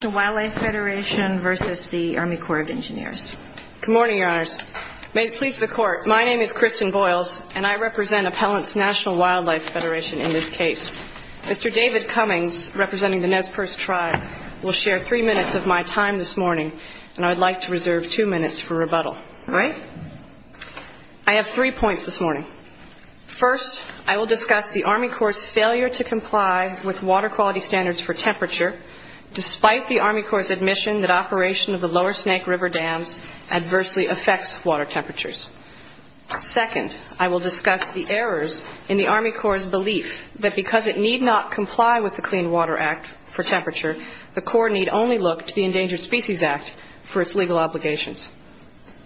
Good morning, Your Honors. May it please the Court, my name is Kristen Boyles, and I represent Appellants National Wildlife Federation in this case. Mr. David Cummings, representing the Nez Perce tribe, will share three minutes of my time this morning, and I would like to reserve two minutes for rebuttal. I have three points this morning. First, I will discuss the Army Corps' failure to comply with water quality standards for temperature, despite the Army Corps' admission that operation of the Lower Snake River dams adversely affects water temperatures. Second, I will discuss the errors in the Army Corps' belief that because it need not comply with the Clean Water Act for temperature, the Corps need only look to the Endangered Species Act for its legal obligations.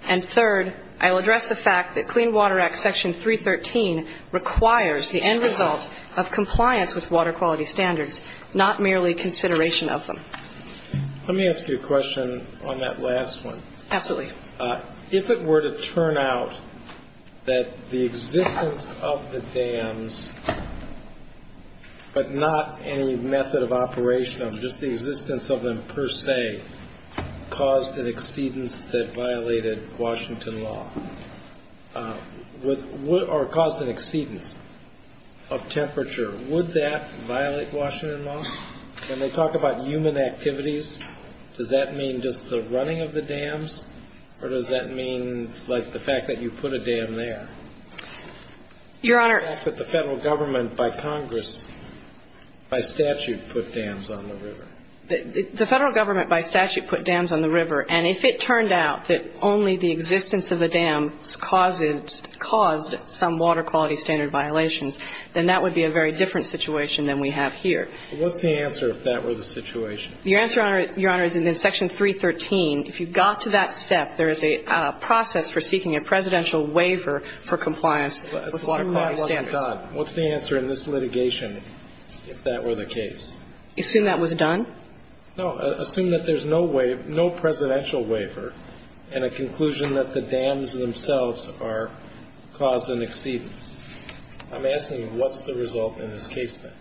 And third, I will address the fact that Clean Water Act Section 313 requires the end result of compliance with Let me ask you a question on that last one. Absolutely. If it were to turn out that the existence of the dams, but not any method of operation of them, just the existence of them per se, caused an exceedance that violated Washington law, or caused an exceedance of the Clean Water Act, does that mean just the running of the dams, or does that mean, like, the fact that you put a dam there? Your Honor. The fact that the Federal Government, by Congress, by statute, put dams on the river. The Federal Government, by statute, put dams on the river, and if it turned out that only the existence of the dams caused some water quality standard violations, then that would be a very different situation than we have here. What's the answer if that were the situation? Your answer, Your Honor, is that in Section 313, if you got to that step, there is a process for seeking a presidential waiver for compliance with some water quality standards. What's the answer in this litigation if that were the case? Assume that was done? No. Assume that there's no presidential waiver and a conclusion that the dams themselves are causing exceedance. I'm asking you, what's the result in this case, then?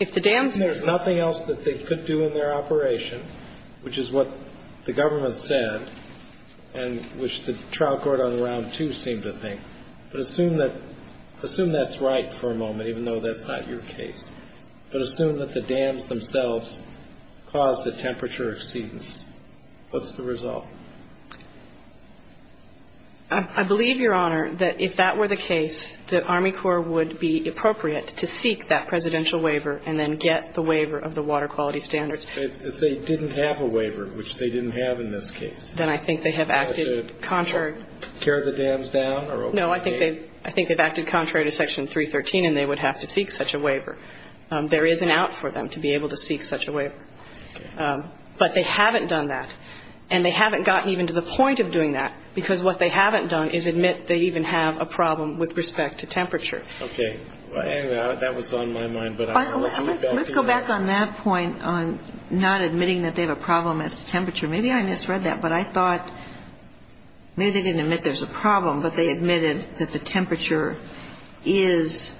If the dams are causing exceedance. If there's nothing else that they could do in their operation, which is what the Government said and which the trial court on Round 2 seemed to think, but assume that's right for a moment, even though that's not your case, but assume that the dams themselves caused the temperature exceedance. What's the result? I believe, Your Honor, that if that were the case, that Army Corps would be appropriate to seek that presidential waiver and then get the waiver of the water quality standards. If they didn't have a waiver, which they didn't have in this case. Then I think they have acted contrary to Section 313 and they would have to seek such a waiver. There is an out for them to be able to seek such a waiver. But they haven't done that. And they haven't gotten even to the point of doing that because what they haven't done is admit they even have a problem with respect to temperature. Okay. That was on my mind. Let's go back on that point on not admitting that they have a problem as to temperature. Maybe I misread that, but I thought maybe they didn't admit there's a problem, but they admitted that the temperature is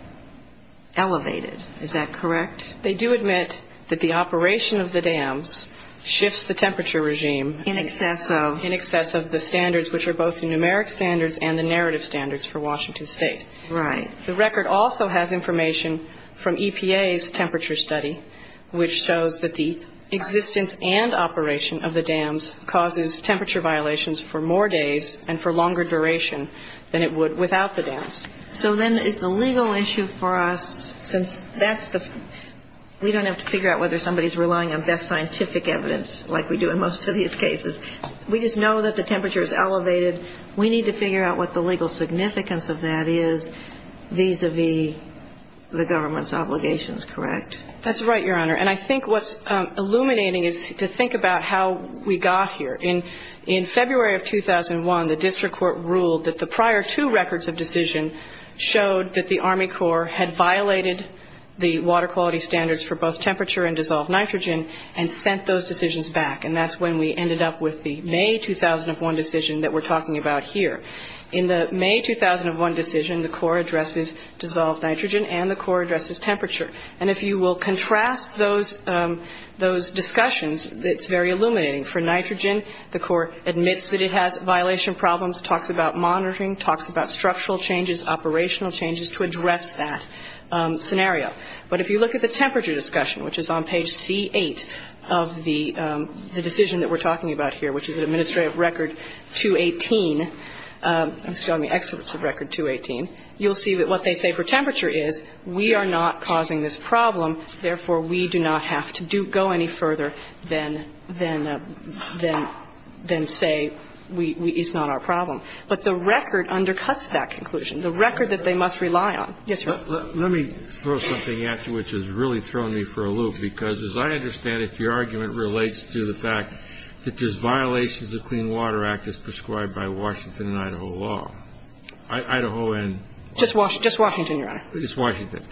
elevated. Is that correct? They do admit that the operation of the dams shifts the temperature regime. In excess of? In excess of the standards, which are both the numeric standards and the narrative standards for Washington State. Right. The record also has information from EPA's temperature study, which shows that the existence and operation of the dams causes temperature violations for more days and for longer duration than it would without the dams. So then it's a legal issue for us since that's the, we don't have to figure out whether somebody's relying on best scientific evidence like we do in most of these cases. We just know that the temperature is elevated. We need to figure out what the legal significance of that is vis-a-vis the government's obligations, correct? That's right, Your Honor. And I think what's illuminating is to think about how we got here. In February of 2001, the district court ruled that the prior two records of decision showed that the Army Corps had violated the water quality standards for both temperature and dissolved nitrogen, and sent those decisions back. And that's when we ended up with the May 2001 decision that we're talking about here. In the May 2001 decision, the Corps addresses dissolved nitrogen and the Corps addresses temperature. And if you will contrast those discussions, it's very illuminating. For nitrogen, the Corps admits that it has violation problems, talks about monitoring, talks about structural changes, operational changes to address that scenario. But if you look at the temperature discussion, which is on page C-8 of the decision that we're talking about here, which is administrative record 218, excuse me, excerpts of record 218, you'll see that what they say for temperature is we are not causing this problem, therefore, we do not have to go any further than say it's not our problem. But the record undercuts that conclusion, the record that they must rely on. Yes, sir. Let me throw something at you, which has really thrown me for a loop. Because as I understand it, your argument relates to the fact that there's violations of Clean Water Act as prescribed by Washington and Idaho law. Idaho and Just Washington, Your Honor. Just Washington.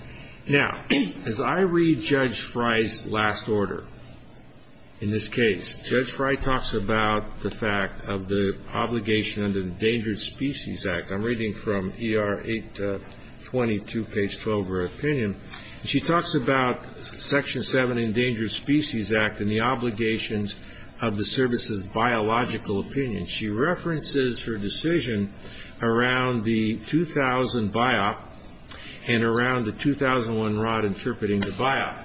Now, as I read Judge Frye's last order in this case, Judge Frye talks about the fact of the Obligation of Endangered Species Act. I'm reading from ER 822, page 12 of her opinion. She talks about Section 7 Endangered Species Act and the obligations of the service's biological opinion. She references her decision around the 2000 BIOC and around the 2001 R.O.D. interpreting the BIOC.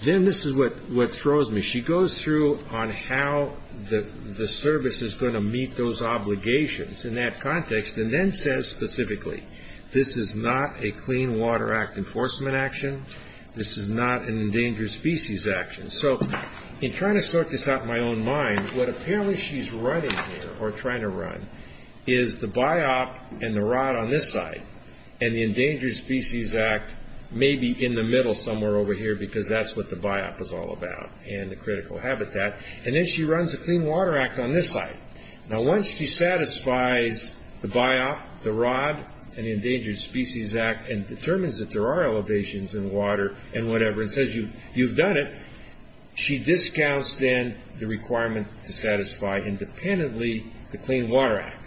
Then this is what throws me. She goes through on how the service is going to meet those obligations in that context. Then says specifically, this is not a Clean Water Act enforcement action. This is not an Endangered Species Act. In trying to sort this out in my own mind, what apparently she's running here, or trying to run, is the BIOC and the R.O.D. on this side, and the Endangered Species Act maybe in the middle somewhere over here, because that's what the BIOC is all about and the critical habitat. She runs a Clean Water Act on this side. Once she satisfies the BIOC, the R.O.D., and the Endangered Species Act, and determines that there are elevations in water and whatever, and says you've done it, she discounts then the requirement to satisfy independently the Clean Water Act.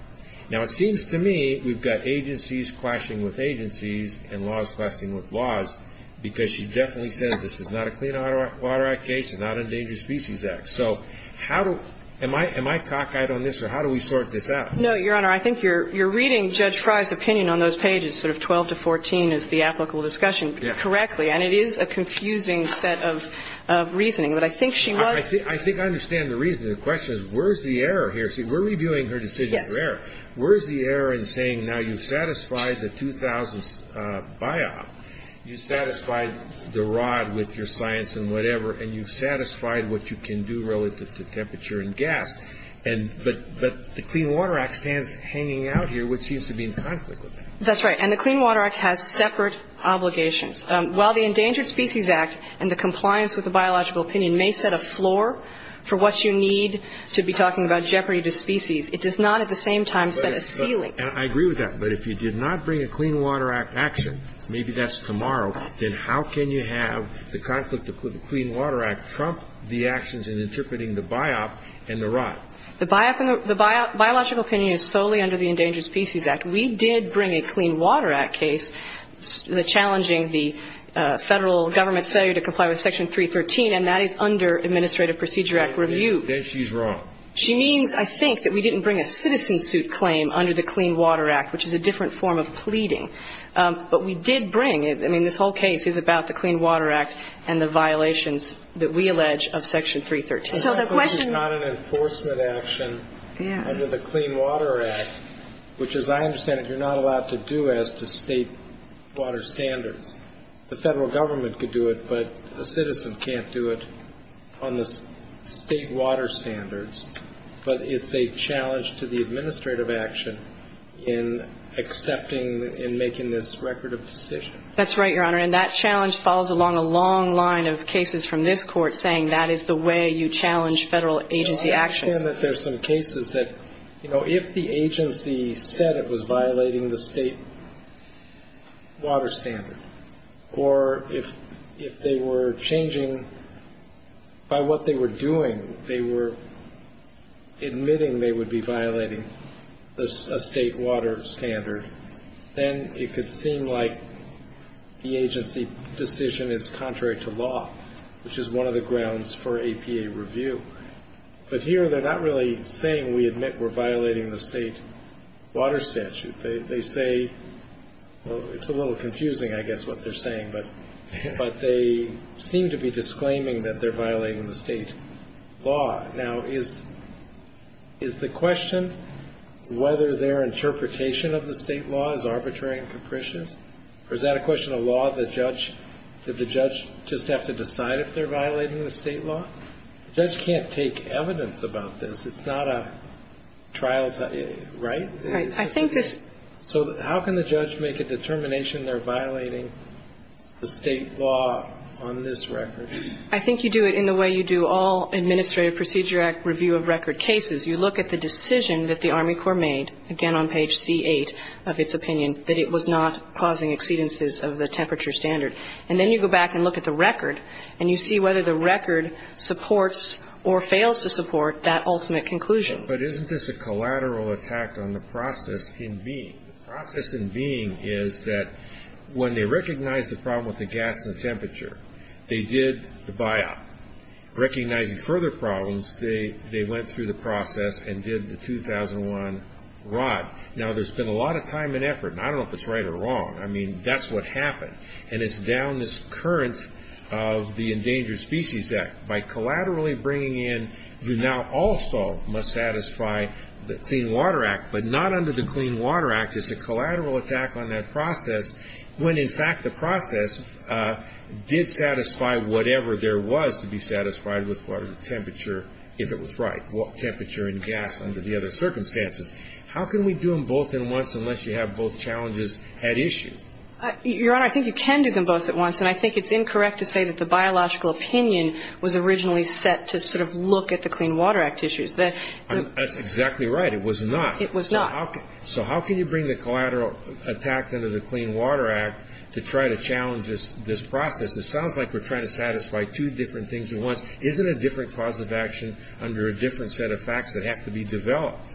It seems to me we've got agencies clashing with agencies and laws clashing with laws, because she definitely says this is not a Clean Water Act case and not an Endangered Species Act. So how do – am I – am I cockeyed on this, or how do we sort this out? No, Your Honor. I think you're reading Judge Frye's opinion on those pages, sort of 12 to 14, as the applicable discussion, correctly. And it is a confusing set of reasoning. But I think she was – I think I understand the reasoning. The question is where's the error here? See, we're reviewing her decision for error. I agree with that. I mean, you've satisfied the R.O.D. with your science and whatever, and you've satisfied what you can do relative to temperature and gas, and – but the Clean Water Act stands hanging out here, which seems to be in conflict with that. That's right. And the Clean Water Act has separate obligations. While the Endangered Species Act and the compliance with the biological opinion may set a floor for what you need to be talking about jeopardy to species, it does not at the same time set a ceiling. I agree with that. But if you did not bring a Clean Water Act action, maybe that's tomorrow, then how can you have the conflict with the Clean Water Act trump the actions in interpreting the BIOP and the R.O.D.? The BIOP and the – the biological opinion is solely under the Endangered Species Act. We did bring a Clean Water Act case challenging the Federal Government's failure to comply with Section 313, and that is under Administrative Procedure Act review. Then she's wrong. She means, I think, that we didn't bring a citizen suit claim under the Clean Water Act, which is a different form of pleading. But we did bring – I mean, this whole case is about the Clean Water Act and the violations that we allege of Section 313. So the question – This is not an enforcement action under the Clean Water Act, which, as I understand it, you're not allowed to do as to state water standards. The Federal Government could do it, but a citizen can't do it on the state water standards. But it's a challenge to the administrative action in accepting and making this record of decision. That's right, Your Honor. And that challenge falls along a long line of cases from this Court saying that is the way you challenge Federal agency actions. I understand that there's some cases that, you know, if the agency said it was violating the state water standard, or if they were changing by what they were doing, they were admitting they would be violating a state water standard, then it could seem like the agency decision is contrary to law, which is one of the grounds for APA review. But here they're not really saying we admit we're violating the state water statute. They say – well, it's a little confusing, I guess, what they're saying. But they seem to be disclaiming that they're violating the state law. Now, is the question whether their interpretation of the state law is arbitrary and capricious? Or is that a question of law? The judge – did the judge just have to decide if they're violating the state law? The judge can't take evidence about this. It's not a trial – right? Right. I think this – So how can the judge make a determination they're violating the state law on this record? I think you do it in the way you do all Administrative Procedure Act review of record cases. You look at the decision that the Army Corps made, again on page C-8 of its opinion, that it was not causing exceedances of the temperature standard. And then you go back and look at the record, and you see whether the record supports or fails to support that ultimate conclusion. But isn't this a collateral attack on the process in being? The process in being is that when they recognized the problem with the gas and the temperature, they did the buyout. Recognizing further problems, they went through the process and did the 2001 rod. Now, there's been a lot of time and effort, and I don't know if it's right or wrong. I mean, that's what happened. And it's down this current of the Endangered Species Act. By collaterally bringing in, you now also must satisfy the Clean Water Act, but not under the Clean Water Act. It's a collateral attack on that process when, in fact, the process did satisfy whatever there was to be satisfied with water temperature if it was right, temperature and gas under the other circumstances. How can we do them both at once unless you have both challenges at issue? Your Honor, I think you can do them both at once. And I think it's incorrect to say that the biological opinion was originally set to sort of look at the Clean Water Act issues. That's exactly right. It was not. It was not. So how can you bring the collateral attack under the Clean Water Act to try to challenge this process? It sounds like we're trying to satisfy two different things at once. Isn't it a different cause of action under a different set of facts that have to be developed?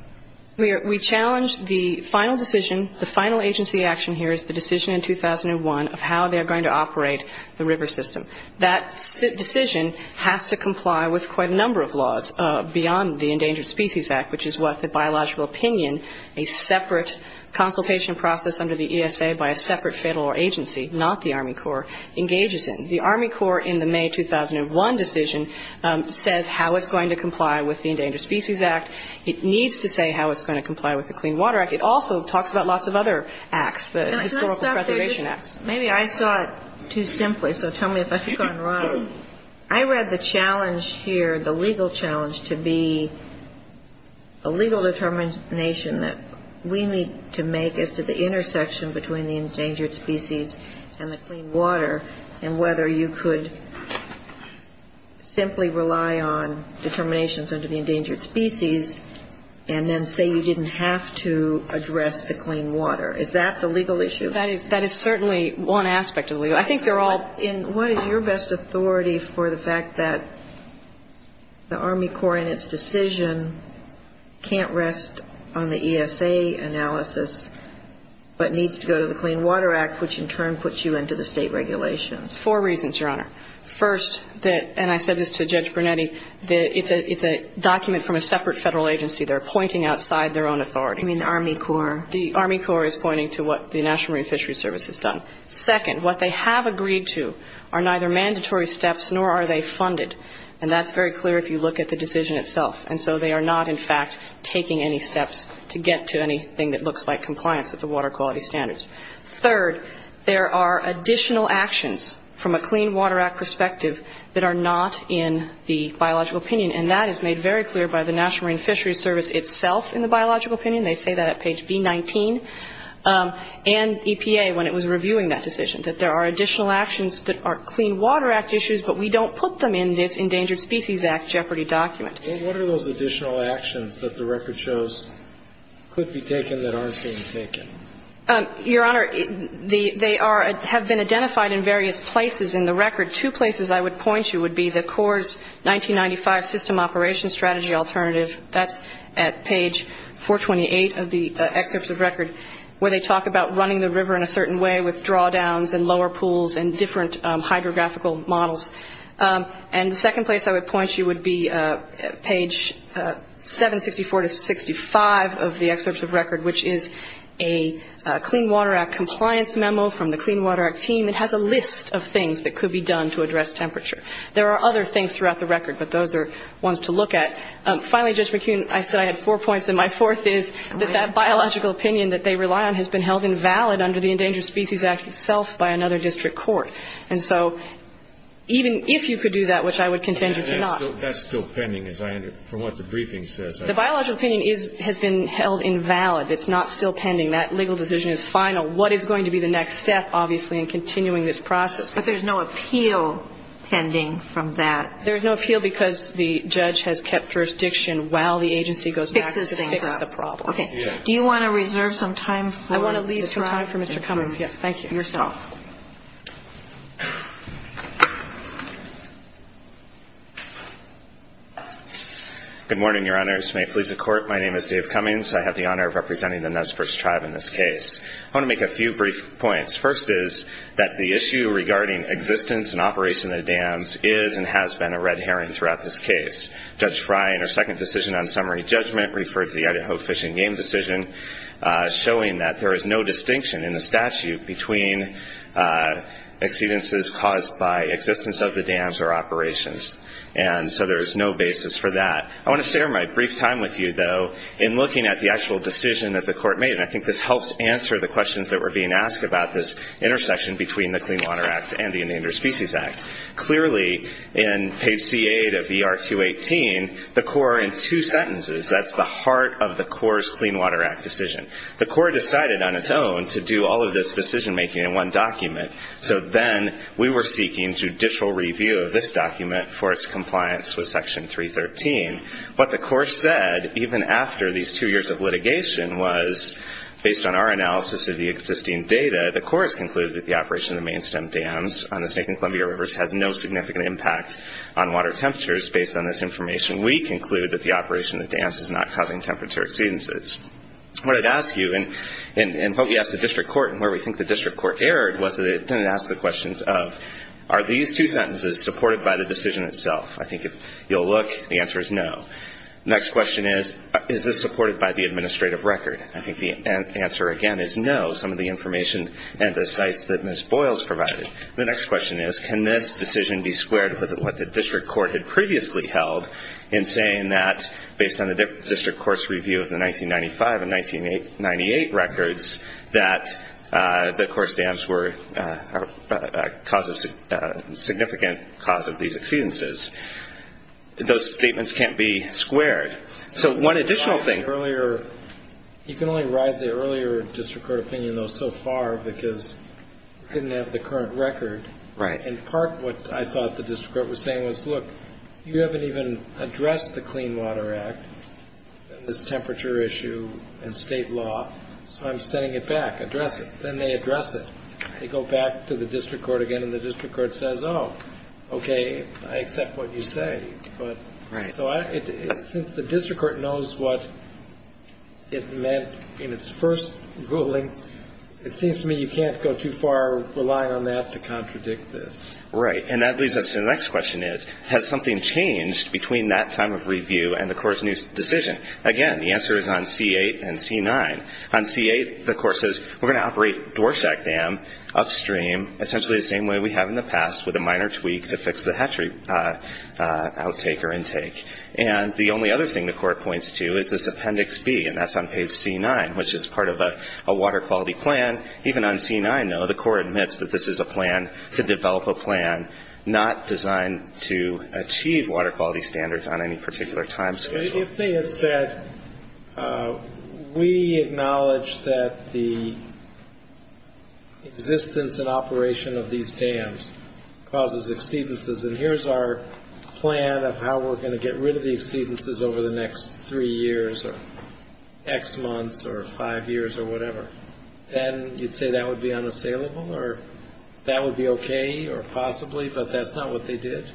We challenge the final decision, the final agency action here is the decision in 2001 of how they are going to operate the river system. That decision has to comply with quite a number of laws beyond the Endangered Species Act, which is what the biological opinion, a separate consultation process under the ESA by a separate federal agency, not the Army Corps, engages in. The Army Corps in the May 2001 decision says how it's going to comply with the Endangered Species Act. It needs to say how it's going to comply with the Clean Water Act. It also talks about lots of other acts, the Historical Preservation Act. Maybe I saw it too simply, so tell me if I've gone wrong. I read the challenge here, the legal challenge, to be a legal determination that we need to make as to the intersection between the endangered species and the clean water and whether you could simply rely on determinations under the endangered species and then say you didn't have to address the clean water. Is that the legal issue? That is certainly one aspect of the legal issue. I think they're all... What is your best authority for the fact that the Army Corps in its decision can't rest on the ESA analysis but needs to go to the Clean Water Act, which in turn puts you into the state regulations? Four reasons, Your Honor. First, and I said this to Judge Brunetti, it's a document from a separate federal agency. They're pointing outside their own authority. You mean the Army Corps? The Army Corps is pointing to what the National Marine Fisheries Service has done. Second, what they have agreed to are neither mandatory steps nor are they funded. And that's very clear if you look at the decision itself. And so they are not, in fact, taking any steps to get to anything that looks like compliance with the water quality standards. Third, there are additional actions from a Clean Water Act perspective that are not in the biological opinion. And that is made very clear by the National Marine Fisheries Service itself in the biological opinion. They say that at page V-19. And EPA, when it was reviewing that decision, that there are additional actions that are Clean Water Act issues, but we don't put them in this Endangered Species Act jeopardy document. And what are those additional actions that the record shows could be taken that aren't being taken? Your Honor, they are, have been identified in various places in the record. Two places I would point you would be the Corps' 1995 System Operation Strategy Alternative. That's at page 428 of the excerpt of the record where they talk about running the river in a certain way with drawdowns and lower pools and different hydrographical models. And the second place I would point you would be page 764-65 of the excerpt of the record, which is a Clean Water Act compliance memo from the Clean Water Act team. It has a list of things that could be done to address temperature. There are other things throughout the record, but those are ones to look at. Finally, Judge McKeon, I said I had four points, and my fourth is that that biological opinion that they rely on has been held invalid under the Endangered Species Act itself by another district court. And so even if you could do that, which I would contend you cannot. That's still pending, as I understand it, from what the briefing says. The biological opinion has been held invalid. It's not still pending. That legal decision is final. What is going to be the next step, obviously, in continuing this process? But there's no appeal pending from that. There's no appeal because the judge has kept jurisdiction while the agency goes back to the Nez Perce tribe. Okay. Do you want to reserve some time for Mr. Cummings? Yes. Thank you. Yourself. Good morning, Your Honors. May it please the Court, my name is Dave Cummings. I have the honor of representing the Nez Perce tribe in this case. I want to make a few brief points. First is that the issue regarding existence and operation of dams is and has been a red herring throughout this case. Judge Fry in her second decision on summary judgment referred to the Idaho Fish and Game decision showing that there is no distinction in the statute between exceedances caused by existence of the dams or operations. And so there is no basis for that. I want to share my brief time with you, though, in looking at the actual decision that the Court made. And I think this helps answer the questions that were being asked about this intersection between the Clean Water Act and the Endangered Species Act. Clearly, in page C8 of ER 218, the Court, in two sentences, that's the heart of the Court's Clean Water Act decision. The Court decided on its own to do all of this decision making in one document. So then we were seeking judicial review of this document for its compliance with Section 313. What the Court said, even after these two years of litigation, was, based on our analysis of the existing data, the Court has concluded that the operation of the main stem dams on the Snake and Columbia Rivers has no significant impact on water temperatures based on this information. We conclude that the operation of the dams is not causing temperature exceedances. What it asks you, and what we asked the District Court, and where we think the District Court erred, was that it didn't ask the questions of, are these two sentences supported by the decision itself? I think if you'll look, the answer is no. The next question is, is this supported by the administrative record? I think the answer, again, is no. Some of the information and the sites that Ms. Boyles provided. The next question is, can this decision be squared with what the District Court had previously held in saying that, based on the District Court's review of the 1995 and 1998 records, that the core stamps were a significant cause of these exceedances? Those statements can't be squared. So one additional thing. You can only ride the earlier District Court opinion, though, so far because it didn't have the current record. In part, what I thought the District Court was saying was, look, you haven't even addressed the Clean Water Act, and this temperature issue, and state law, so I'm sending it back. Address it. Then they address it. They go back to the District Court again, and the District Court says, oh, okay, I accept what you say. Since the District Court knows what it meant in its first ruling, it seems to me you can't go too far relying on that to contradict this. Right, and that leads us to the next question is, has something changed between that time of review and the court's new decision? Again, the answer is on C-8 and C-9. On C-8, the court says, we're going to operate Dorsak Dam upstream, essentially the same way we have in the past, with a minor tweak to fix the hatchery outtake or intake. And the only other thing the court points to is this Appendix B, and that's on page C-9, which is part of a water quality plan. Even on C-9, though, the court admits that this is a plan to develop a plan not designed to achieve water quality standards on any particular time schedule. If they had said, we acknowledge that the existence and operation of these dams causes exceedances, and here's our plan of how we're going to get rid of the exceedances over the next three years or X months or five years or whatever, then you'd say that would be unassailable or that would be okay or possibly, but that's not what they did?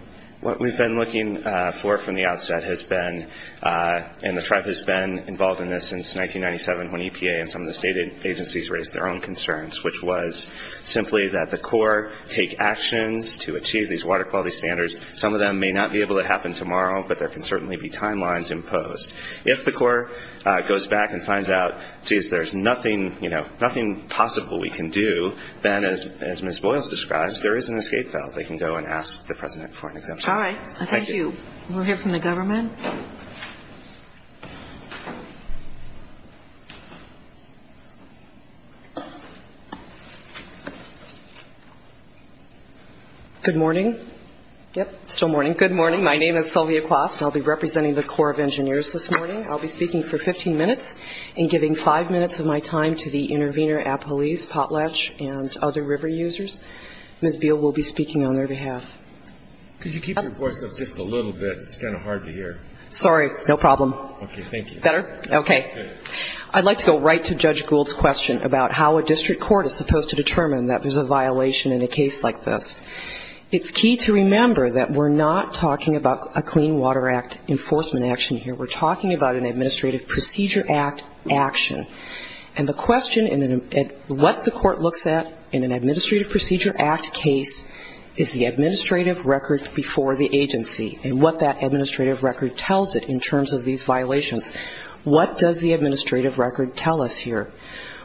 What we've been looking for from the outset has been, and the tribe has been involved in this since 1997 when EPA and some of the state agencies raised their own concerns, which was simply that the court take actions to achieve these water quality standards. Some of them may not be able to happen tomorrow, but there can certainly be timelines imposed. If the court goes back and finds out, geez, there's nothing possible we can do, then, as Ms. Boyles described, there is an escape valve. They can go and ask the President for an exemption. All right. Thank you. We'll hear from the government. Good morning. Yep, still morning. Good morning. My name is Sylvia Quast. I'll be representing the Corps of Engineers this morning. I'll be speaking for 15 minutes and giving five minutes of my time to the intervener at police, potlatch, and other river users. Ms. Beal will be speaking on their behalf. Could you keep your voice up just a little bit? It's kind of hard to hear. Sorry. No problem. Okay. Thank you. Better? Okay. I'd like to go right to Judge Gould's question about how a district court is supposed to determine that there's a violation in a case like this. It's key to remember that we're not talking about a Clean Water Act enforcement action here. We're talking about an Administrative Procedure Act action. And the question, what the court looks at in an Administrative Procedure Act case is the administrative records before the agency and what that administrative record tells it in terms of these violations. What does the administrative record tell us here?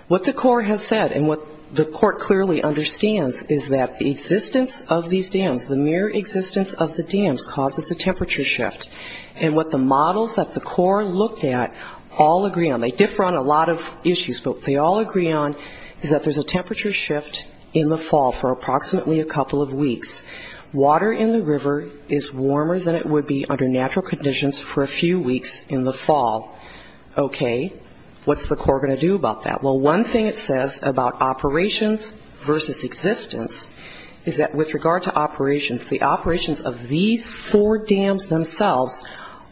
What the court has said and what the court clearly understands is that the existence of these dams, the mere existence of the dams causes a temperature shift. And what the models that the court looked at all agree on, they differ on a lot of issues, but they all agree on is that there's a temperature shift in the fall for approximately a couple of weeks. Water in the river is warmer than it would be under natural conditions for a few weeks in the fall. Okay. What's the court going to do about that? Well, one thing it says about operations versus existence is that with regard to operations, the operations of these four dams themselves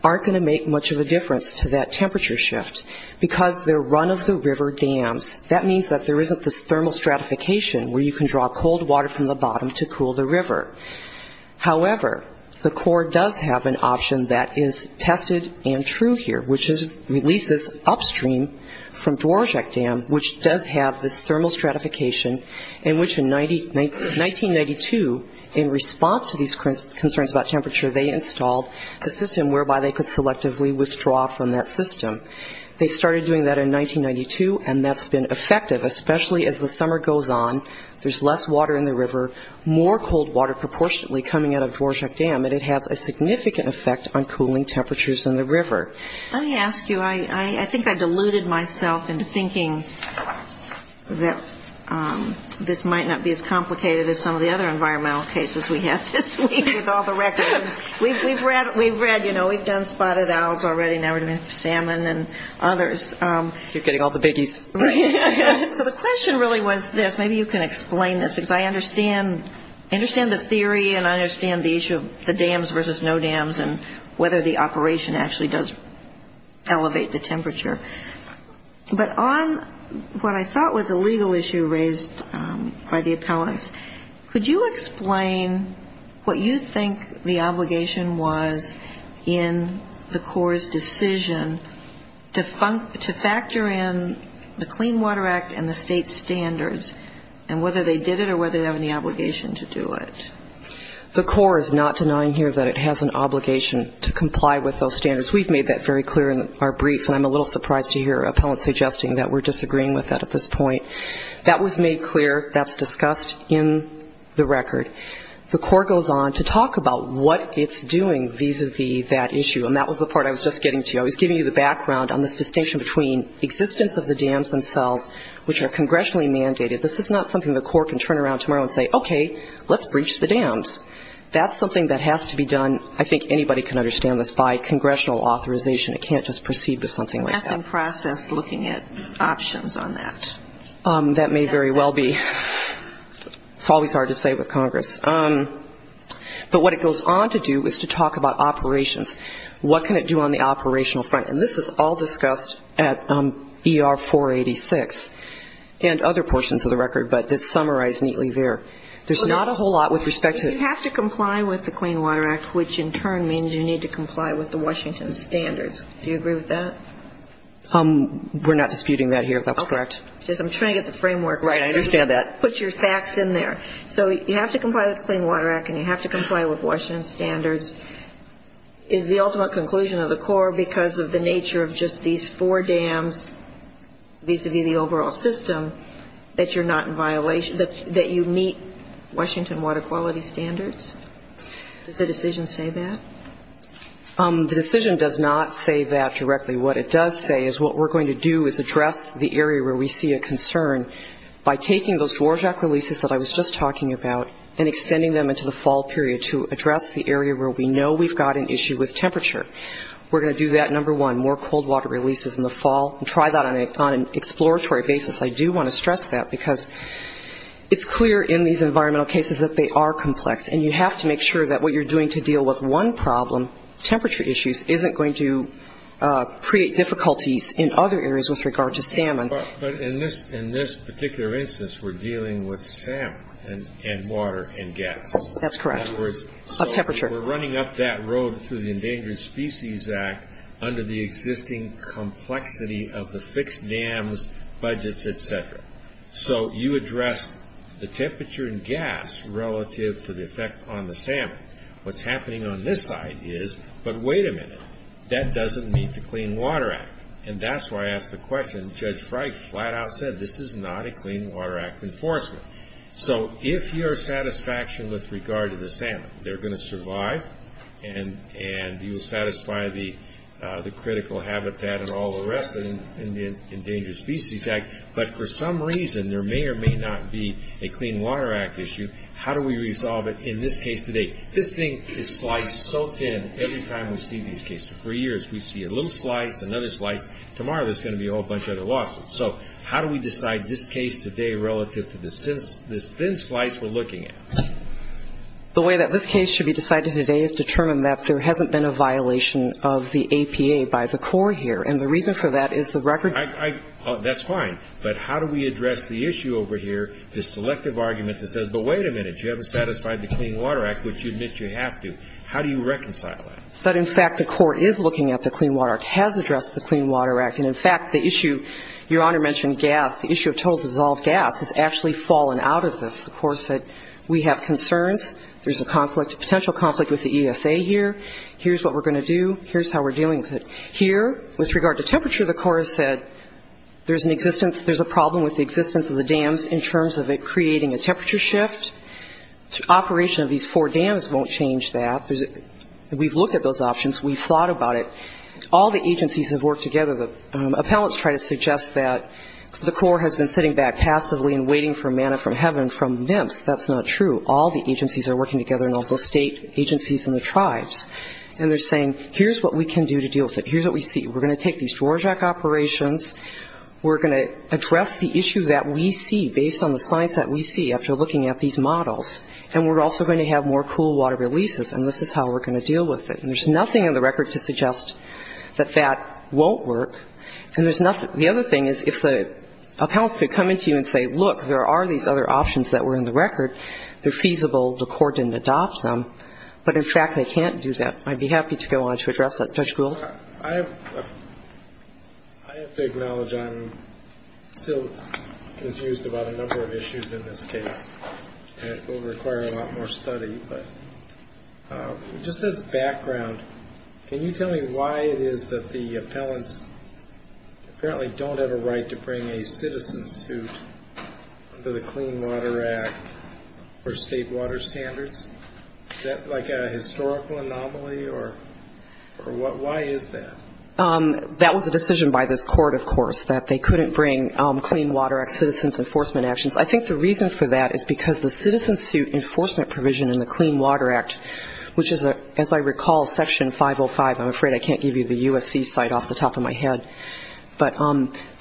aren't going to make much of a difference to that temperature shift because they're run-of-the-river dams. That means that there isn't this thermal stratification where you can draw cold water from the bottom to cool the river. However, the court does have an option that is tested and true here, which is releases upstream from Dworak Dam, which does have this thermal stratification in which in 1992, in response to these concerns about temperature, they installed a system whereby they could selectively withdraw from that system. They started doing that in 1992, and that's been effective, especially as the summer goes on. There's less water in the river, more cold water proportionately coming out of Dworak Dam, and it has a significant effect on cooling temperatures in the river. Let me ask you. I think I deluded myself into thinking that this might not be as complicated as some of the other environmental cases we have this week with all the records. We've read, you know, we've done spotted owls already. Now we're going to have to do salmon and others. You're getting all the biggies. So the question really was this. Maybe you can explain this because I understand the theory and I understand the issue of the dams versus no dams and whether the operation actually does elevate the temperature. But on what I thought was a legal issue raised by the appellants, could you explain what you think the obligation was in the Corps' decision to factor in the Clean Water Act and the state's standards and whether they did it or whether they have any obligation to do it? The Corps is not denying here that it has an obligation to comply with those standards. We've made that very clear in our brief, and I'm a little surprised to hear appellants suggesting that we're disagreeing with that at this point. That was made clear. That's discussed in the record. The Corps goes on to talk about what it's doing vis-a-vis that issue, and that was the part I was just getting to. I was giving you the background on this distinction between existence of the dams themselves, which are congressionally mandated. This is not something the Corps can turn around tomorrow and say, okay, let's breach the dams. That's something that has to be done, I think anybody can understand this, by congressional authorization. It can't just proceed with something like that. That's in process, looking at options on that. That may very well be. It's always hard to say with Congress. But what it goes on to do is to talk about operations. What can it do on the operational front? And this is all discussed at ER 486 and other portions of the record, but it's summarized neatly there. There's not a whole lot with respect to... You have to comply with the Clean Water Act, which in turn means you need to comply with the Washington standards. Do you agree with that? We're not disputing that here, if that's correct. I'm trying to get the framework right. I understand that. Put your facts in there. So you have to comply with the Clean Water Act and you have to comply with Washington standards. Is the ultimate conclusion of the Corps, because of the nature of just these four dams, vis-a-vis the overall system, that you're not in violation, that you meet Washington water quality standards? Does the decision say that? The decision does not say that directly. What it does say is what we're going to do is address the area where we see a concern by taking those Dwarjak releases that I was just talking about and extending them into the fall period to address the area where we know we've got an issue with temperature. We're going to do that, number one, more cold water releases in the fall and try that on an exploratory basis. I do want to stress that because it's clear in these environmental cases that they are complex and you have to make sure that what you're doing to deal with one problem, temperature issues, isn't going to create difficulties in other areas with regard to salmon. But in this particular instance, we're dealing with salmon and water and gas. That's correct. In other words, we're running up that road through the Endangered Species Act under the existing complexity of the fixed dams, budgets, et cetera. So you address the temperature and gas relative to the effect on the salmon. What's happening on this side is, but wait a minute, that doesn't meet the Clean Water Act and that's why I asked the question. Judge Frey flat out said this is not a Clean Water Act enforcement. So if you're satisfaction with regard to the salmon, they're going to survive and you'll satisfy the critical habitat and all the rest of the Endangered Species Act, but for some reason there may or may not be a Clean Water Act issue, how do we resolve it in this case today? This thing is sliced so thin every time we see these cases. For years we see a little slice, another slice. Tomorrow there's going to be a whole bunch of other lawsuits. So how do we decide this case today relative to this thin slice we're looking at? The way that this case should be decided today is to determine that there hasn't been a violation of the APA by the Corps here. And the reason for that is the record. That's fine. But how do we address the issue over here, this selective argument that says, but wait a minute, you haven't satisfied the Clean Water Act, which you admit you have to. How do you reconcile that? But in fact, the Corps is looking at the Clean Water Act, has addressed the Clean Water Act. And in fact, the issue, Your Honor mentioned gas, the issue of total dissolved gas has actually fallen out of this. The Corps said, we have concerns. There's a conflict, a potential conflict with the ESA here. Here's what we're going to do. Here's how we're dealing with it. Here, with regard to temperature, the Corps has said there's an existence, there's a problem with the existence of the dams in terms of it creating a temperature shift. Operation of these four dams won't change that. We've looked at those options. We've thought about it. All the agencies have worked together. The appellants try to suggest that the Corps has been sitting back passively and waiting for manna from heaven, from nymphs. That's not true. All the agencies are working together, and also state agencies and the tribes. And they're saying, here's what we can do to deal with it. Here's what we see. We're going to take these Dworak operations. We're going to address the issue that we see based on the science that we see after looking at these models. And we're also going to have more cool water releases. And this is how we're going to deal with it. And there's nothing in the record to suggest that that won't work. And there's nothing the other thing is if the appellants could come in to you and say, look, there are these other options that were in the record. They're feasible. The Corps didn't adopt them. But in fact, they can't do that. I'd be happy to go on to address that. Judge Gould? I have to acknowledge I'm still confused about a number of issues in this case. And it will require a lot more study. But just as background, can you tell me why it is that the appellants apparently don't have a right to bring a citizen suit under the Clean Water Act for state water standards? Is that like a historical anomaly? Or why is that? That was a decision by this court, of course, that they couldn't bring Clean Water Act citizens' enforcement actions. I think the reason for that is because the citizen suit enforcement provision in the Clean Water Act, which is, as I recall, Section 505. I'm afraid I can't give you the USC site off the top of my head. But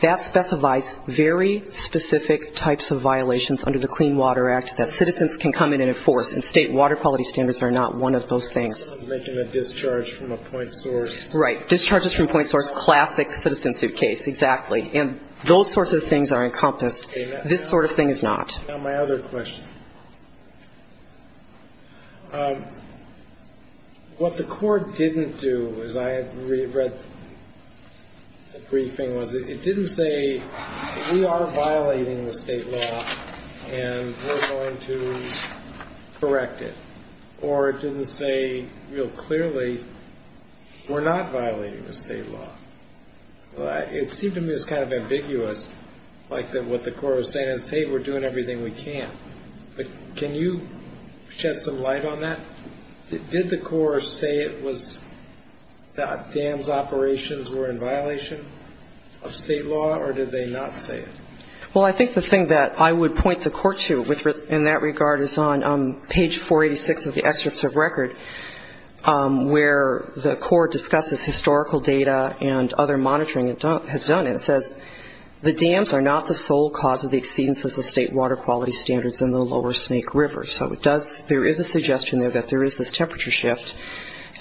that specifies very specific types of violations under the Clean Water Act that citizens can come in and enforce. And state water quality standards are not one of those things. I was making a discharge from a point source. Right. Discharges from point source, classic citizen suit case. Exactly. And those sorts of things are encompassed. This sort of thing is not. My other question. What the court didn't do, as I read the briefing, was it didn't say, we are violating the state law and we're going to correct it. Or it didn't say real clearly, we're not violating the state law. Well, it seemed to me it was kind of ambiguous. Like what the court was saying is, hey, we're doing everything we can. But can you shed some light on that? Did the court say it was that dams operations were in violation of state law or did they not say it? Well, I think the thing that I would point the court to in that regard is on page 486 of the excerpts of record, where the court discusses historical data and other monitoring it has done. And it says, the dams are not the sole cause of the exceedances of state water quality standards in the Lower Snake River. So it does, there is a suggestion there that there is this temperature shift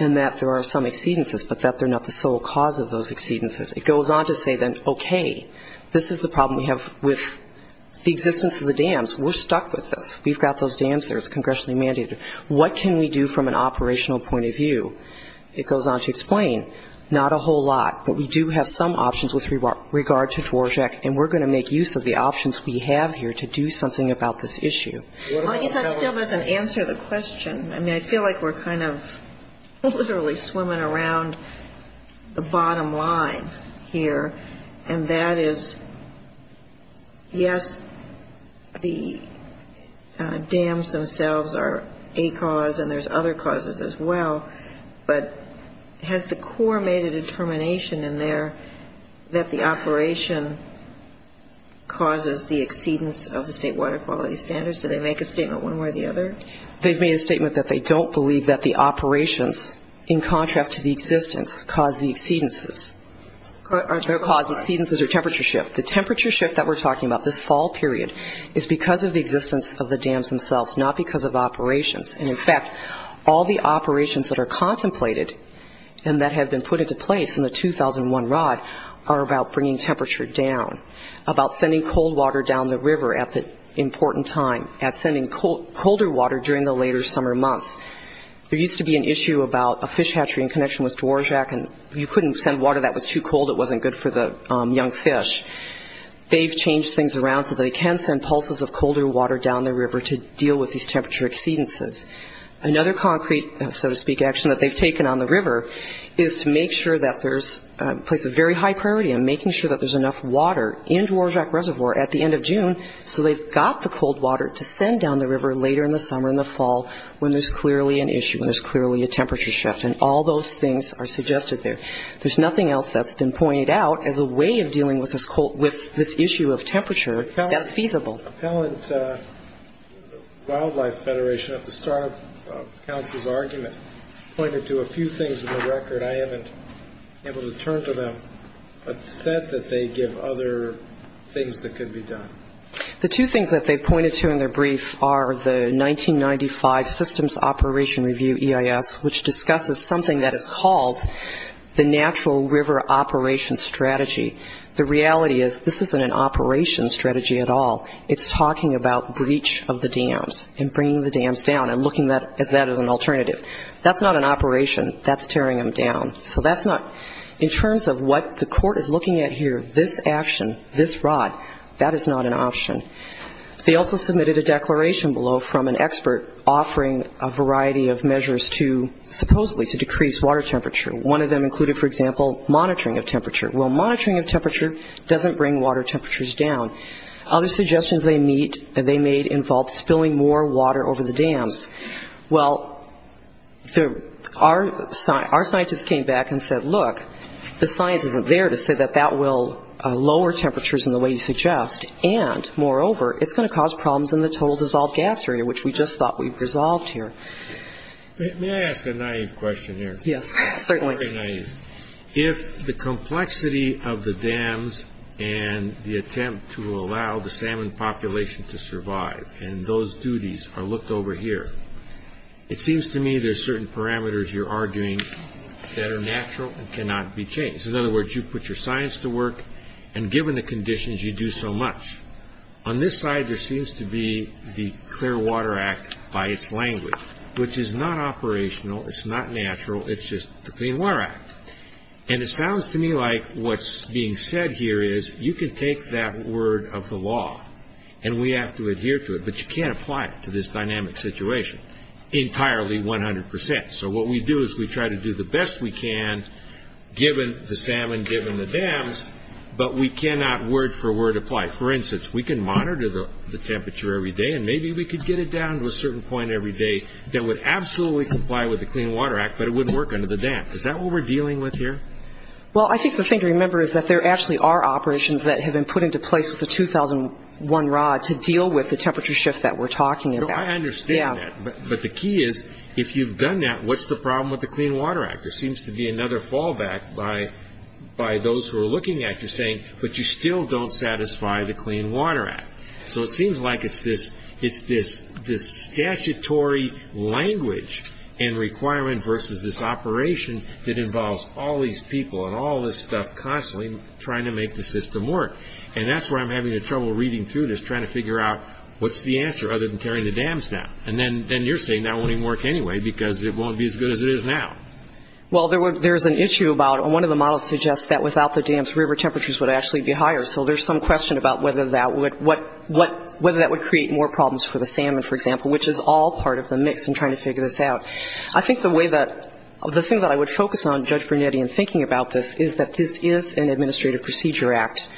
and that there are some exceedances, but that they're not the sole cause of those exceedances. It goes on to say then, okay, this is the problem we have with the existence of the dams. We're stuck with this. We've got those dams there. It's congressionally mandated. What can we do from an operational point of view? It goes on to explain, not a whole lot, but we do have some options with regard to Dworak, and we're going to make use of the options we have here to do something about this issue. Well, I guess that still doesn't answer the question. I mean, I feel like we're kind of literally swimming around the bottom line here. And that is, yes, the dams themselves are a cause, and there's other causes as well. But has the Corps made a determination in there that the operation causes the exceedance of the state water quality standards? Do they make a statement one way or the other? They've made a statement that they don't believe that the operations, in contrast to the existence, cause the exceedances. Are there causes, exceedances or temperature shift? The temperature shift that we're talking about, this fall period, is because of the existence of the dams themselves, not because of operations. And in fact, all the operations that are contemplated and that have been put into place in the 2001 R.O.D. are about bringing temperature down, about sending cold water down the river at the important time, at sending colder water during the later summer months. There used to be an issue about a fish hatchery in connection with Dworak, and you couldn't send water that was too cold. It wasn't good for the young fish. They've changed things around so they can send pulses of colder water down the river to deal with these temperature exceedances. Another concrete, so to speak, action that they've taken on the river is to make sure that there's a place of very high priority in making sure that there's enough water in Dworak Reservoir at the end of June so they've got the cold water to send down the river later in the summer, in the fall, when there's clearly an issue, when there's clearly a temperature shift. And all those things are suggested there. There's nothing else that's been pointed out as a way of dealing with this issue of temperature that's feasible. The Appellant Wildlife Federation, at the start of Council's argument, pointed to a few things in the record I haven't been able to turn to them, but said that they give other things that could be done. The two things that they pointed to in their brief are the 1995 Systems Operation Review EIS, which discusses something that is called the Natural River Operation Strategy. The reality is this isn't an operation strategy at all. It's talking about breach of the dams and bringing the dams down and looking at that as an alternative. That's not an operation. That's tearing them down. So that's not, in terms of what the court is looking at here, this action, this rod, that is not an option. They also submitted a declaration below from an expert offering a variety of measures to, supposedly, to decrease water temperature. One of them included, for example, monitoring of temperature. Well, monitoring of temperature doesn't bring water temperatures down. Other suggestions they made involved spilling more water over the dams. Well, our scientists came back and said, look, the science isn't there to say that that will It's going to cause problems in the total dissolved gas area, which we just thought we've resolved here. May I ask a naive question here? Yes, certainly. If the complexity of the dams and the attempt to allow the salmon population to survive and those duties are looked over here, it seems to me there's certain parameters you're arguing that are natural and cannot be changed. In other words, you put your science to work, and given the conditions, you do so much. On this side, there seems to be the Clear Water Act by its language, which is not operational. It's not natural. It's just the Clean Water Act. And it sounds to me like what's being said here is you can take that word of the law, and we have to adhere to it, but you can't apply it to this dynamic situation entirely, 100%. So what we do is we try to do the best we can, given the salmon, given the dams, but we cannot word for word apply. For instance, we can monitor the temperature every day, and maybe we could get it down to a certain point every day that would absolutely comply with the Clean Water Act, but it wouldn't work under the dam. Is that what we're dealing with here? Well, I think the thing to remember is that there actually are operations that have been put into place with the 2001 rod to deal with the temperature shift that we're talking about. I understand that. But the key is, if you've done that, what's the problem with the Clean Water Act? There seems to be another fallback by those who are looking at you saying, but you still don't satisfy the Clean Water Act. So it seems like it's this statutory language and requirement versus this operation that involves all these people and all this stuff constantly trying to make the system work. And that's where I'm having trouble reading through this, trying to figure out what's the answer other than tearing the dams down. And then you're saying that won't even work anyway because it won't be as good as it is now. Well, there's an issue about one of the models suggests that without the dams, river temperatures would actually be higher. So there's some question about whether that would create more problems for the salmon, for example, which is all part of the mix. I'm trying to figure this out. I think the way that the thing that I would focus on, Judge Brunetti, in thinking about this is that this is an administrative procedure act,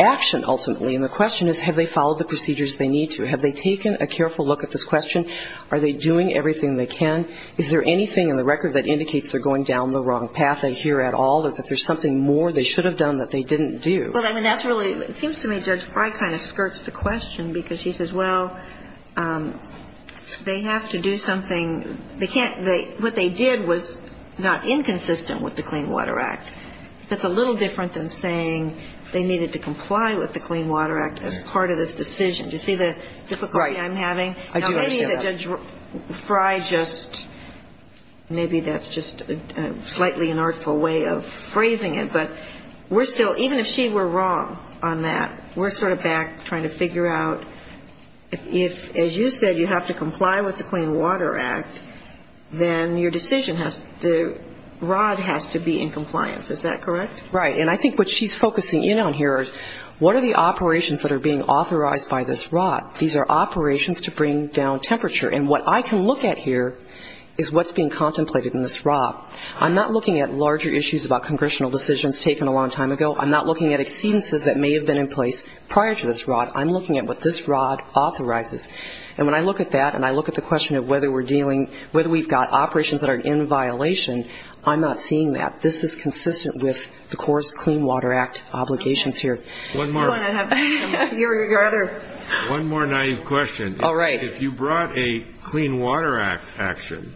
action ultimately. And the question is, have they followed the procedures they need to? Have they taken a careful look at this question? Are they doing everything they can? Is there anything in the record that indicates they're going down the wrong path, I hear at all, or that there's something more they should have done that they didn't do? Well, I mean, that's really – it seems to me Judge Frye kind of skirts the question because she says, well, they have to do something – they can't – what they did was not inconsistent with the Clean Water Act. That's a little different than saying they needed to comply with the Clean Water Act as part of this decision. Do you see the difficulty I'm having? Right. I do understand that. I think that Judge Frye just – maybe that's just a slightly inartful way of phrasing it. But we're still – even if she were wrong on that, we're sort of back trying to figure out if, as you said, you have to comply with the Clean Water Act, then your decision has to – the rod has to be in compliance. Is that correct? Right. And I think what she's focusing in on here is what are the operations that are being authorized by this rod? These are operations to bring down temperature. And what I can look at here is what's being contemplated in this rod. I'm not looking at larger issues about congressional decisions taken a long time ago. I'm not looking at exceedances that may have been in place prior to this rod. I'm looking at what this rod authorizes. And when I look at that and I look at the question of whether we're dealing – whether we've got operations that are in violation, I'm not seeing that. This is consistent with the Corps' Clean Water Act obligations here. One more. You want to have – you or your other – One more naive question. All right. If you brought a Clean Water Act action,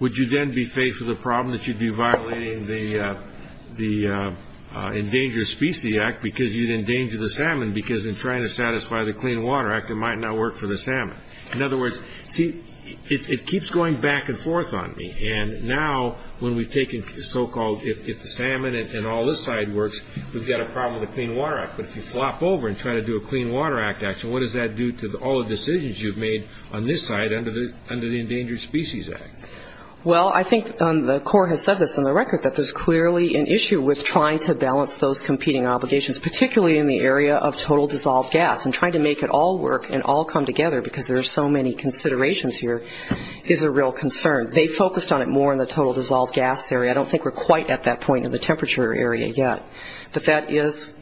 would you then be faced with a problem that you'd be violating the Endangered Species Act because you'd endanger the salmon because in trying to satisfy the Clean Water Act, it might not work for the salmon? In other words, see, it keeps going back and forth on me. And now when we've taken so-called – if the salmon and all this side works, we've got a problem with the Clean Water Act. But if you flop over and try to do a Clean Water Act action, what does that do to all the decisions you've made on this side under the Endangered Species Act? Well, I think the Corps has said this on the record, that there's clearly an issue with trying to balance those competing obligations, particularly in the area of total dissolved gas. And trying to make it all work and all come together because there are so many considerations here is a real concern. They focused on it more in the total dissolved gas area. I don't think we're quite at that point in the temperature area yet. But that is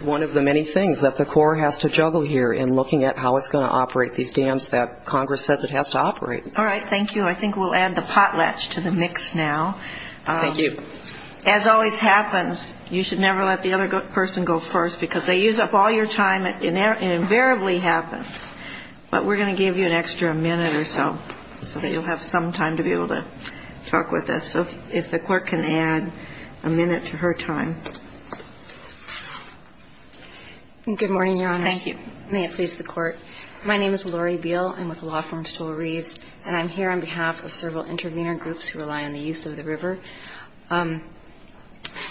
one of the many things that the Corps has to juggle here in looking at how it's going to operate these dams that Congress says it has to operate. All right. Thank you. I think we'll add the potlatch to the mix now. Thank you. As always happens, you should never let the other person go first because they use up all your time and it invariably happens. But we're going to give you an extra minute or so so that you'll have some time to be able to talk with us. If the Court can add a minute to her time. Good morning, Your Honors. Thank you. May it please the Court. My name is Lori Beal. I'm with the law firm Stowell Reeves. And I'm here on behalf of several intervener groups who rely on the use of the river.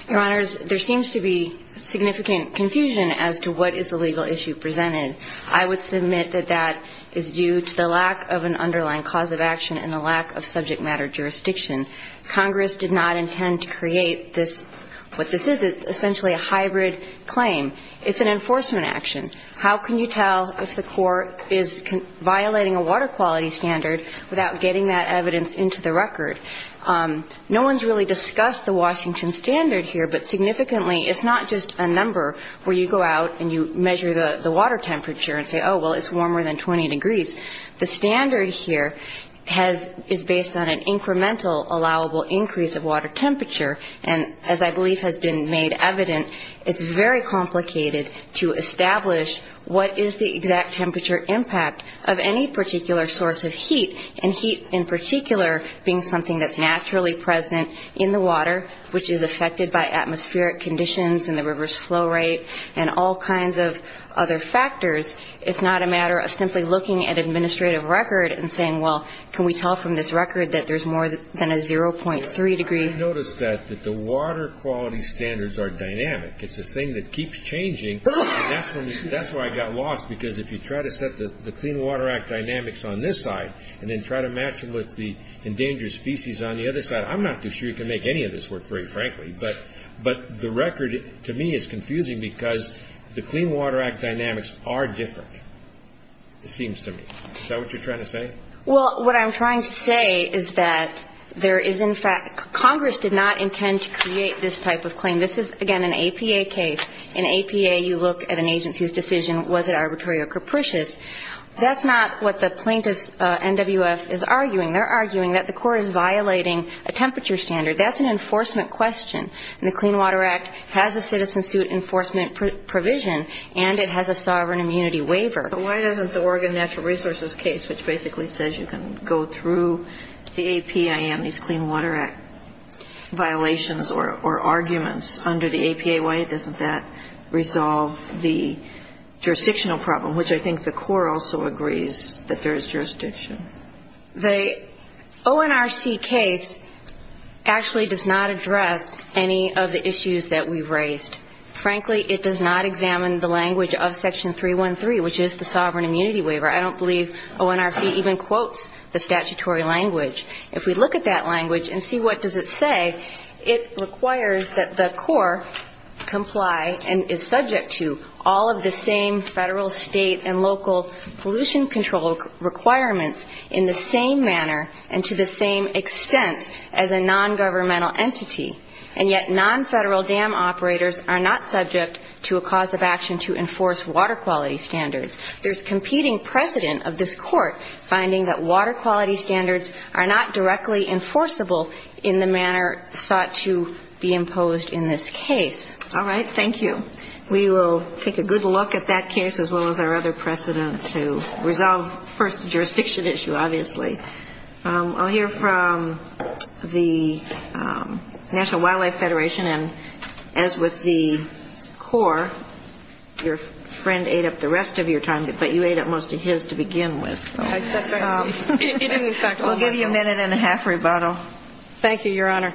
Your Honors, there seems to be significant confusion as to what is the legal issue presented. I'm going to start with the issue of subject matter jurisdiction. Congress did not intend to create what this is. It's essentially a hybrid claim. It's an enforcement action. How can you tell if the Court is violating a water quality standard without getting that evidence into the record? No one's really discussed the Washington standard here. But significantly, it's not just a number where you go out and you measure the water temperature and say, oh, well, it's warmer than 20 degrees. The standard here is based on an incremental allowable increase of water temperature. And as I believe has been made evident, it's very complicated to establish what is the exact temperature impact of any particular source of heat, and heat in particular being something that's naturally present in the water, which is affected by atmospheric conditions and the river's flow rate and all kinds of other factors. It's not a matter of simply looking at administrative record and saying, well, can we tell from this record that there's more than a 0.3 degree? I've noticed that, that the water quality standards are dynamic. It's this thing that keeps changing, and that's why I got lost. Because if you try to set the Clean Water Act dynamics on this side and then try to match them with the endangered species on the other side, I'm not too sure you can make any of this work, very frankly. But the record, to me, is confusing because the Clean Water Act dynamics are different, it seems to me. Is that what you're trying to say? Well, what I'm trying to say is that there is, in fact, Congress did not intend to create this type of claim. This is, again, an APA case. In APA, you look at an agency's decision, was it arbitrary or capricious? That's not what the plaintiff's NWF is arguing. They're arguing that the court is violating a temperature standard. That's an enforcement question, and the Clean Water Act has a citizen suit enforcement provision, and it has a sovereign immunity waiver. But why doesn't the Oregon Natural Resources case, which basically says you can go through the APIN, these Clean Water Act violations or arguments under the APA, why doesn't that resolve the jurisdictional problem, which I think the court also agrees that there is jurisdiction? The ONRC case actually does not address any of the issues that we've raised. Frankly, it does not examine the language of Section 313, which is the sovereign immunity waiver. I don't believe ONRC even quotes the statutory language. If we look at that language and see what does it say, it requires that the court comply and is subject to all of the same federal, state, and local pollution control requirements in the same manner and to the same extent as a nongovernmental entity. And yet nonfederal dam operators are not subject to a cause of action to enforce water quality standards. There's competing precedent of this Court finding that water quality standards are not directly enforceable in the manner sought to be imposed in this case. All right. Thank you. We will take a good look at that case as well as our other precedent to resolve first the jurisdiction issue, obviously. I'll hear from the National Wildlife Federation. And as with the Corps, your friend ate up the rest of your time, but you ate up most of his to begin with. That's right. We'll give you a minute and a half rebuttal. Thank you, Your Honor.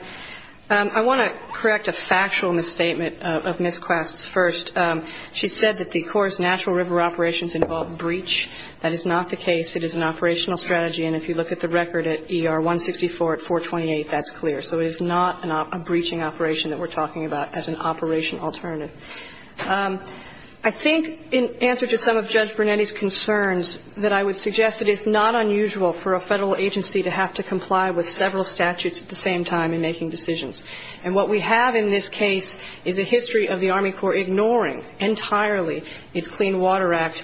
I want to correct a factual misstatement of Ms. Quast's first. She said that the Corps' natural river operations involve breach. That is not the case. It is an operational strategy. And if you look at the record at ER 164 at 428, that's clear. So it is not a breaching operation that we're talking about as an operational alternative. I think in answer to some of Judge Brunetti's concerns that I would suggest that it's not unusual for a federal agency to have to comply with several statutes at the same time in making decisions. And what we have in this case is a history of the Army Corps ignoring entirely its Clean Water Act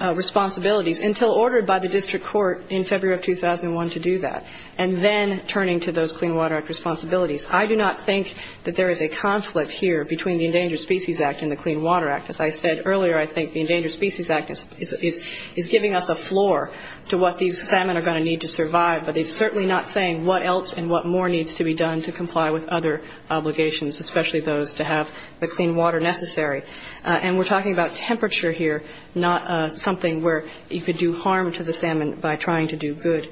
responsibilities until ordered by the district court in February of 2001 to do that and then turning to those Clean Water Act responsibilities. I do not think that there is a conflict here between the Endangered Species Act and the Clean Water Act. As I said earlier, I think the Endangered Species Act is giving us a floor to what these salmon are going to need to survive. But it's certainly not saying what else and what more needs to be done to comply with other obligations, especially those to have the clean water necessary. And we're talking about temperature here, not something where you could do harm to the salmon by trying to do good.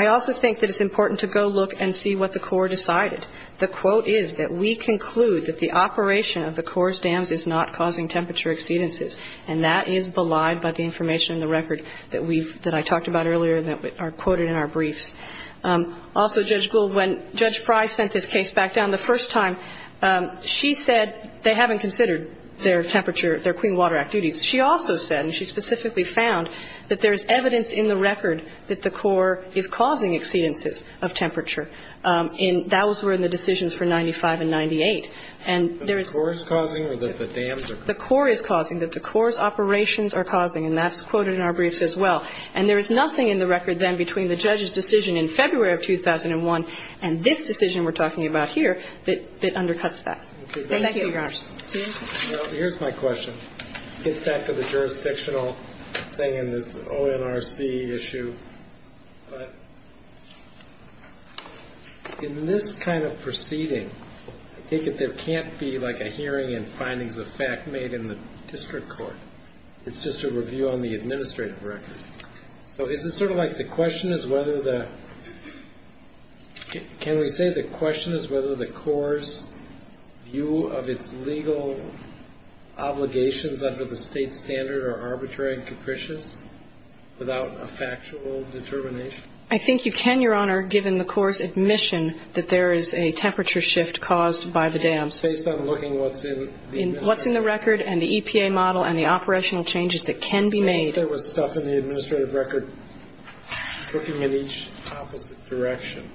I also think that it's important to go look and see what the Corps decided. The quote is that we conclude that the operation of the Corps' dams is not causing temperature exceedances. And that is belied by the information in the record that we've – that I talked about earlier and that are quoted in our briefs. Also, Judge Gould, when Judge Pry sent this case back down the first time, she said they haven't considered their temperature – their Clean Water Act duties. She also said, and she specifically found, that there is evidence in the record that the Corps is causing exceedances of temperature. And that was where the decisions for 95 and 98. And there is – The Corps is causing or that the dams are causing? The Corps is causing, that the Corps' operations are causing. And that's quoted in our briefs as well. And there is nothing in the record then between the judge's decision in February of 2001 and this decision we're talking about here that – that undercuts that. Thank you, Your Honors. Well, here's my question. It gets back to the jurisdictional thing and this ONRC issue. In this kind of proceeding, I think that there can't be, like, a hearing and findings of fact made in the district court. It's just a review on the administrative record. So is it sort of like the question is whether the – can we say the question is whether the Corps' view of its legal obligations under the state standard are arbitrary and capricious without a factual determination? I think you can, Your Honor, given the Corps' admission that there is a temperature shift caused by the dams. Based on looking what's in the – What's in the record and the EPA model and the operational changes that can be made. I think there was stuff in the administrative record looking in each opposite direction.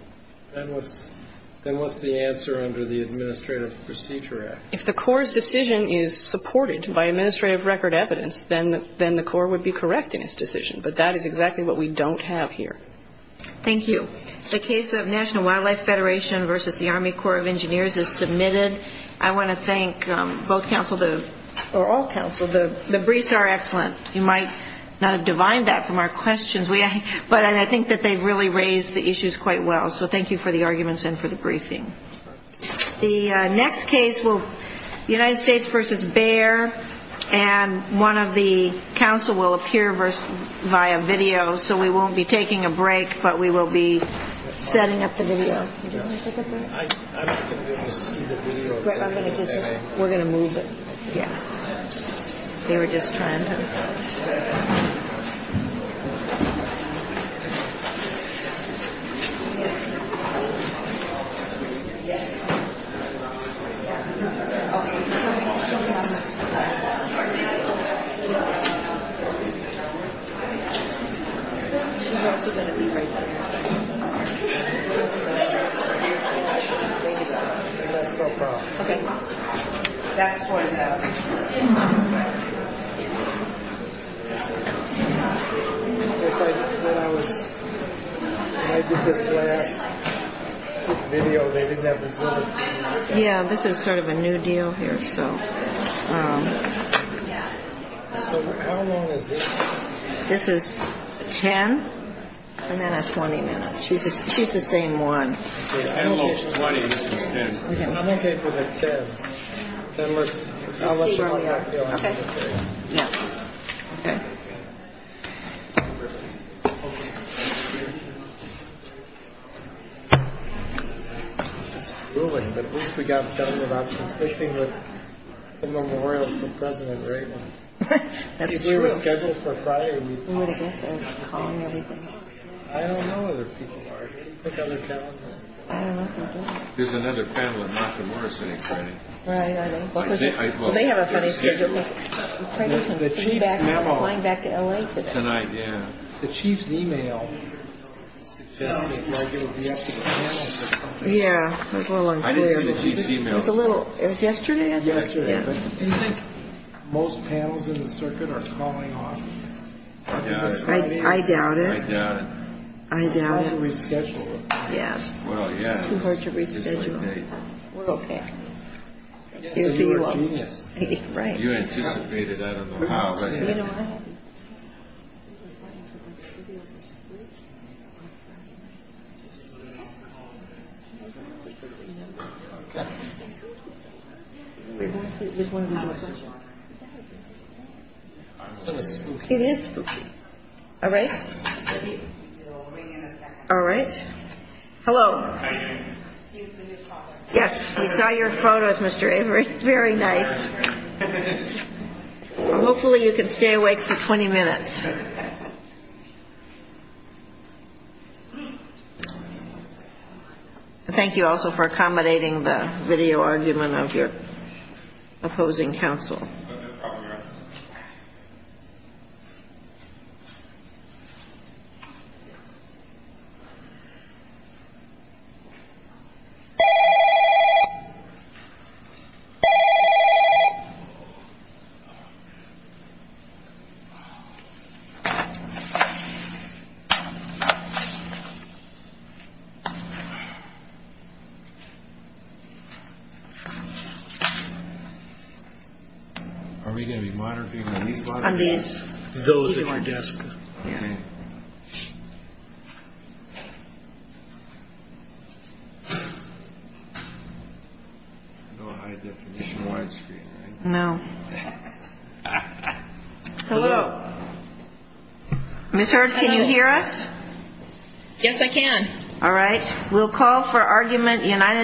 Then what's – then what's the answer under the Administrative Procedure Act? If the Corps' decision is supported by administrative record evidence, then the Corps would be correcting its decision. But that is exactly what we don't have here. Thank you. The case of National Wildlife Federation versus the Army Corps of Engineers is submitted. I want to thank both counsel – or all counsel. The briefs are excellent. You might not have divined that from our questions, but I think that they've really raised the issues quite well. So thank you for the arguments and for the briefing. The next case will – United States versus Bayer. And one of the counsel will appear via video. So we won't be taking a break, but we will be setting up the video. Do you want to take a break? I'm going to be able to see the video. We're going to move it. Yeah. They were just trying to – Yeah, this is sort of a new deal here, so. So how long is this? This is 10 and then a 20-minute. She's the same one. Okay. I'm okay for the 10s. Then let's – Okay. No. Okay. Okay. Okay. This is grueling, but at least we got something about the fishing with the memorial to President Reagan. That's true. He was scheduled for Friday. Who would have guessed they were calling everything? I don't know who the people are. There's other panelists. I don't know who they are. There's another panel in Nakamura City, Freddie. Right, I know. They have a funny schedule. The chief's email. He's flying back to L.A. tonight. Tonight, yeah. The chief's email. Yeah, that's what I'm saying. I didn't see the chief's email. It was yesterday? It was sent yesterday. Do you think most panels in the circuit are calling off? I doubt it. I doubt it. It's hard to reschedule. Yeah. It's too hard to reschedule. We're okay. You're a genius. You anticipated that. I don't know how. It is spooky. All right. All right. Hello. Yes, we saw your photos, Mr. Avery. Very nice. Hopefully you can stay awake for 20 minutes. Thank you also for accommodating the video argument of your opposing counsel. Thank you. All right. Thank you. Thank you. Thank you. Are we going to be moderating? Those at your desk. Yeah. No. Hello. Ms. Hurd, can you hear us? Yes, I can. All right. We'll call for argument.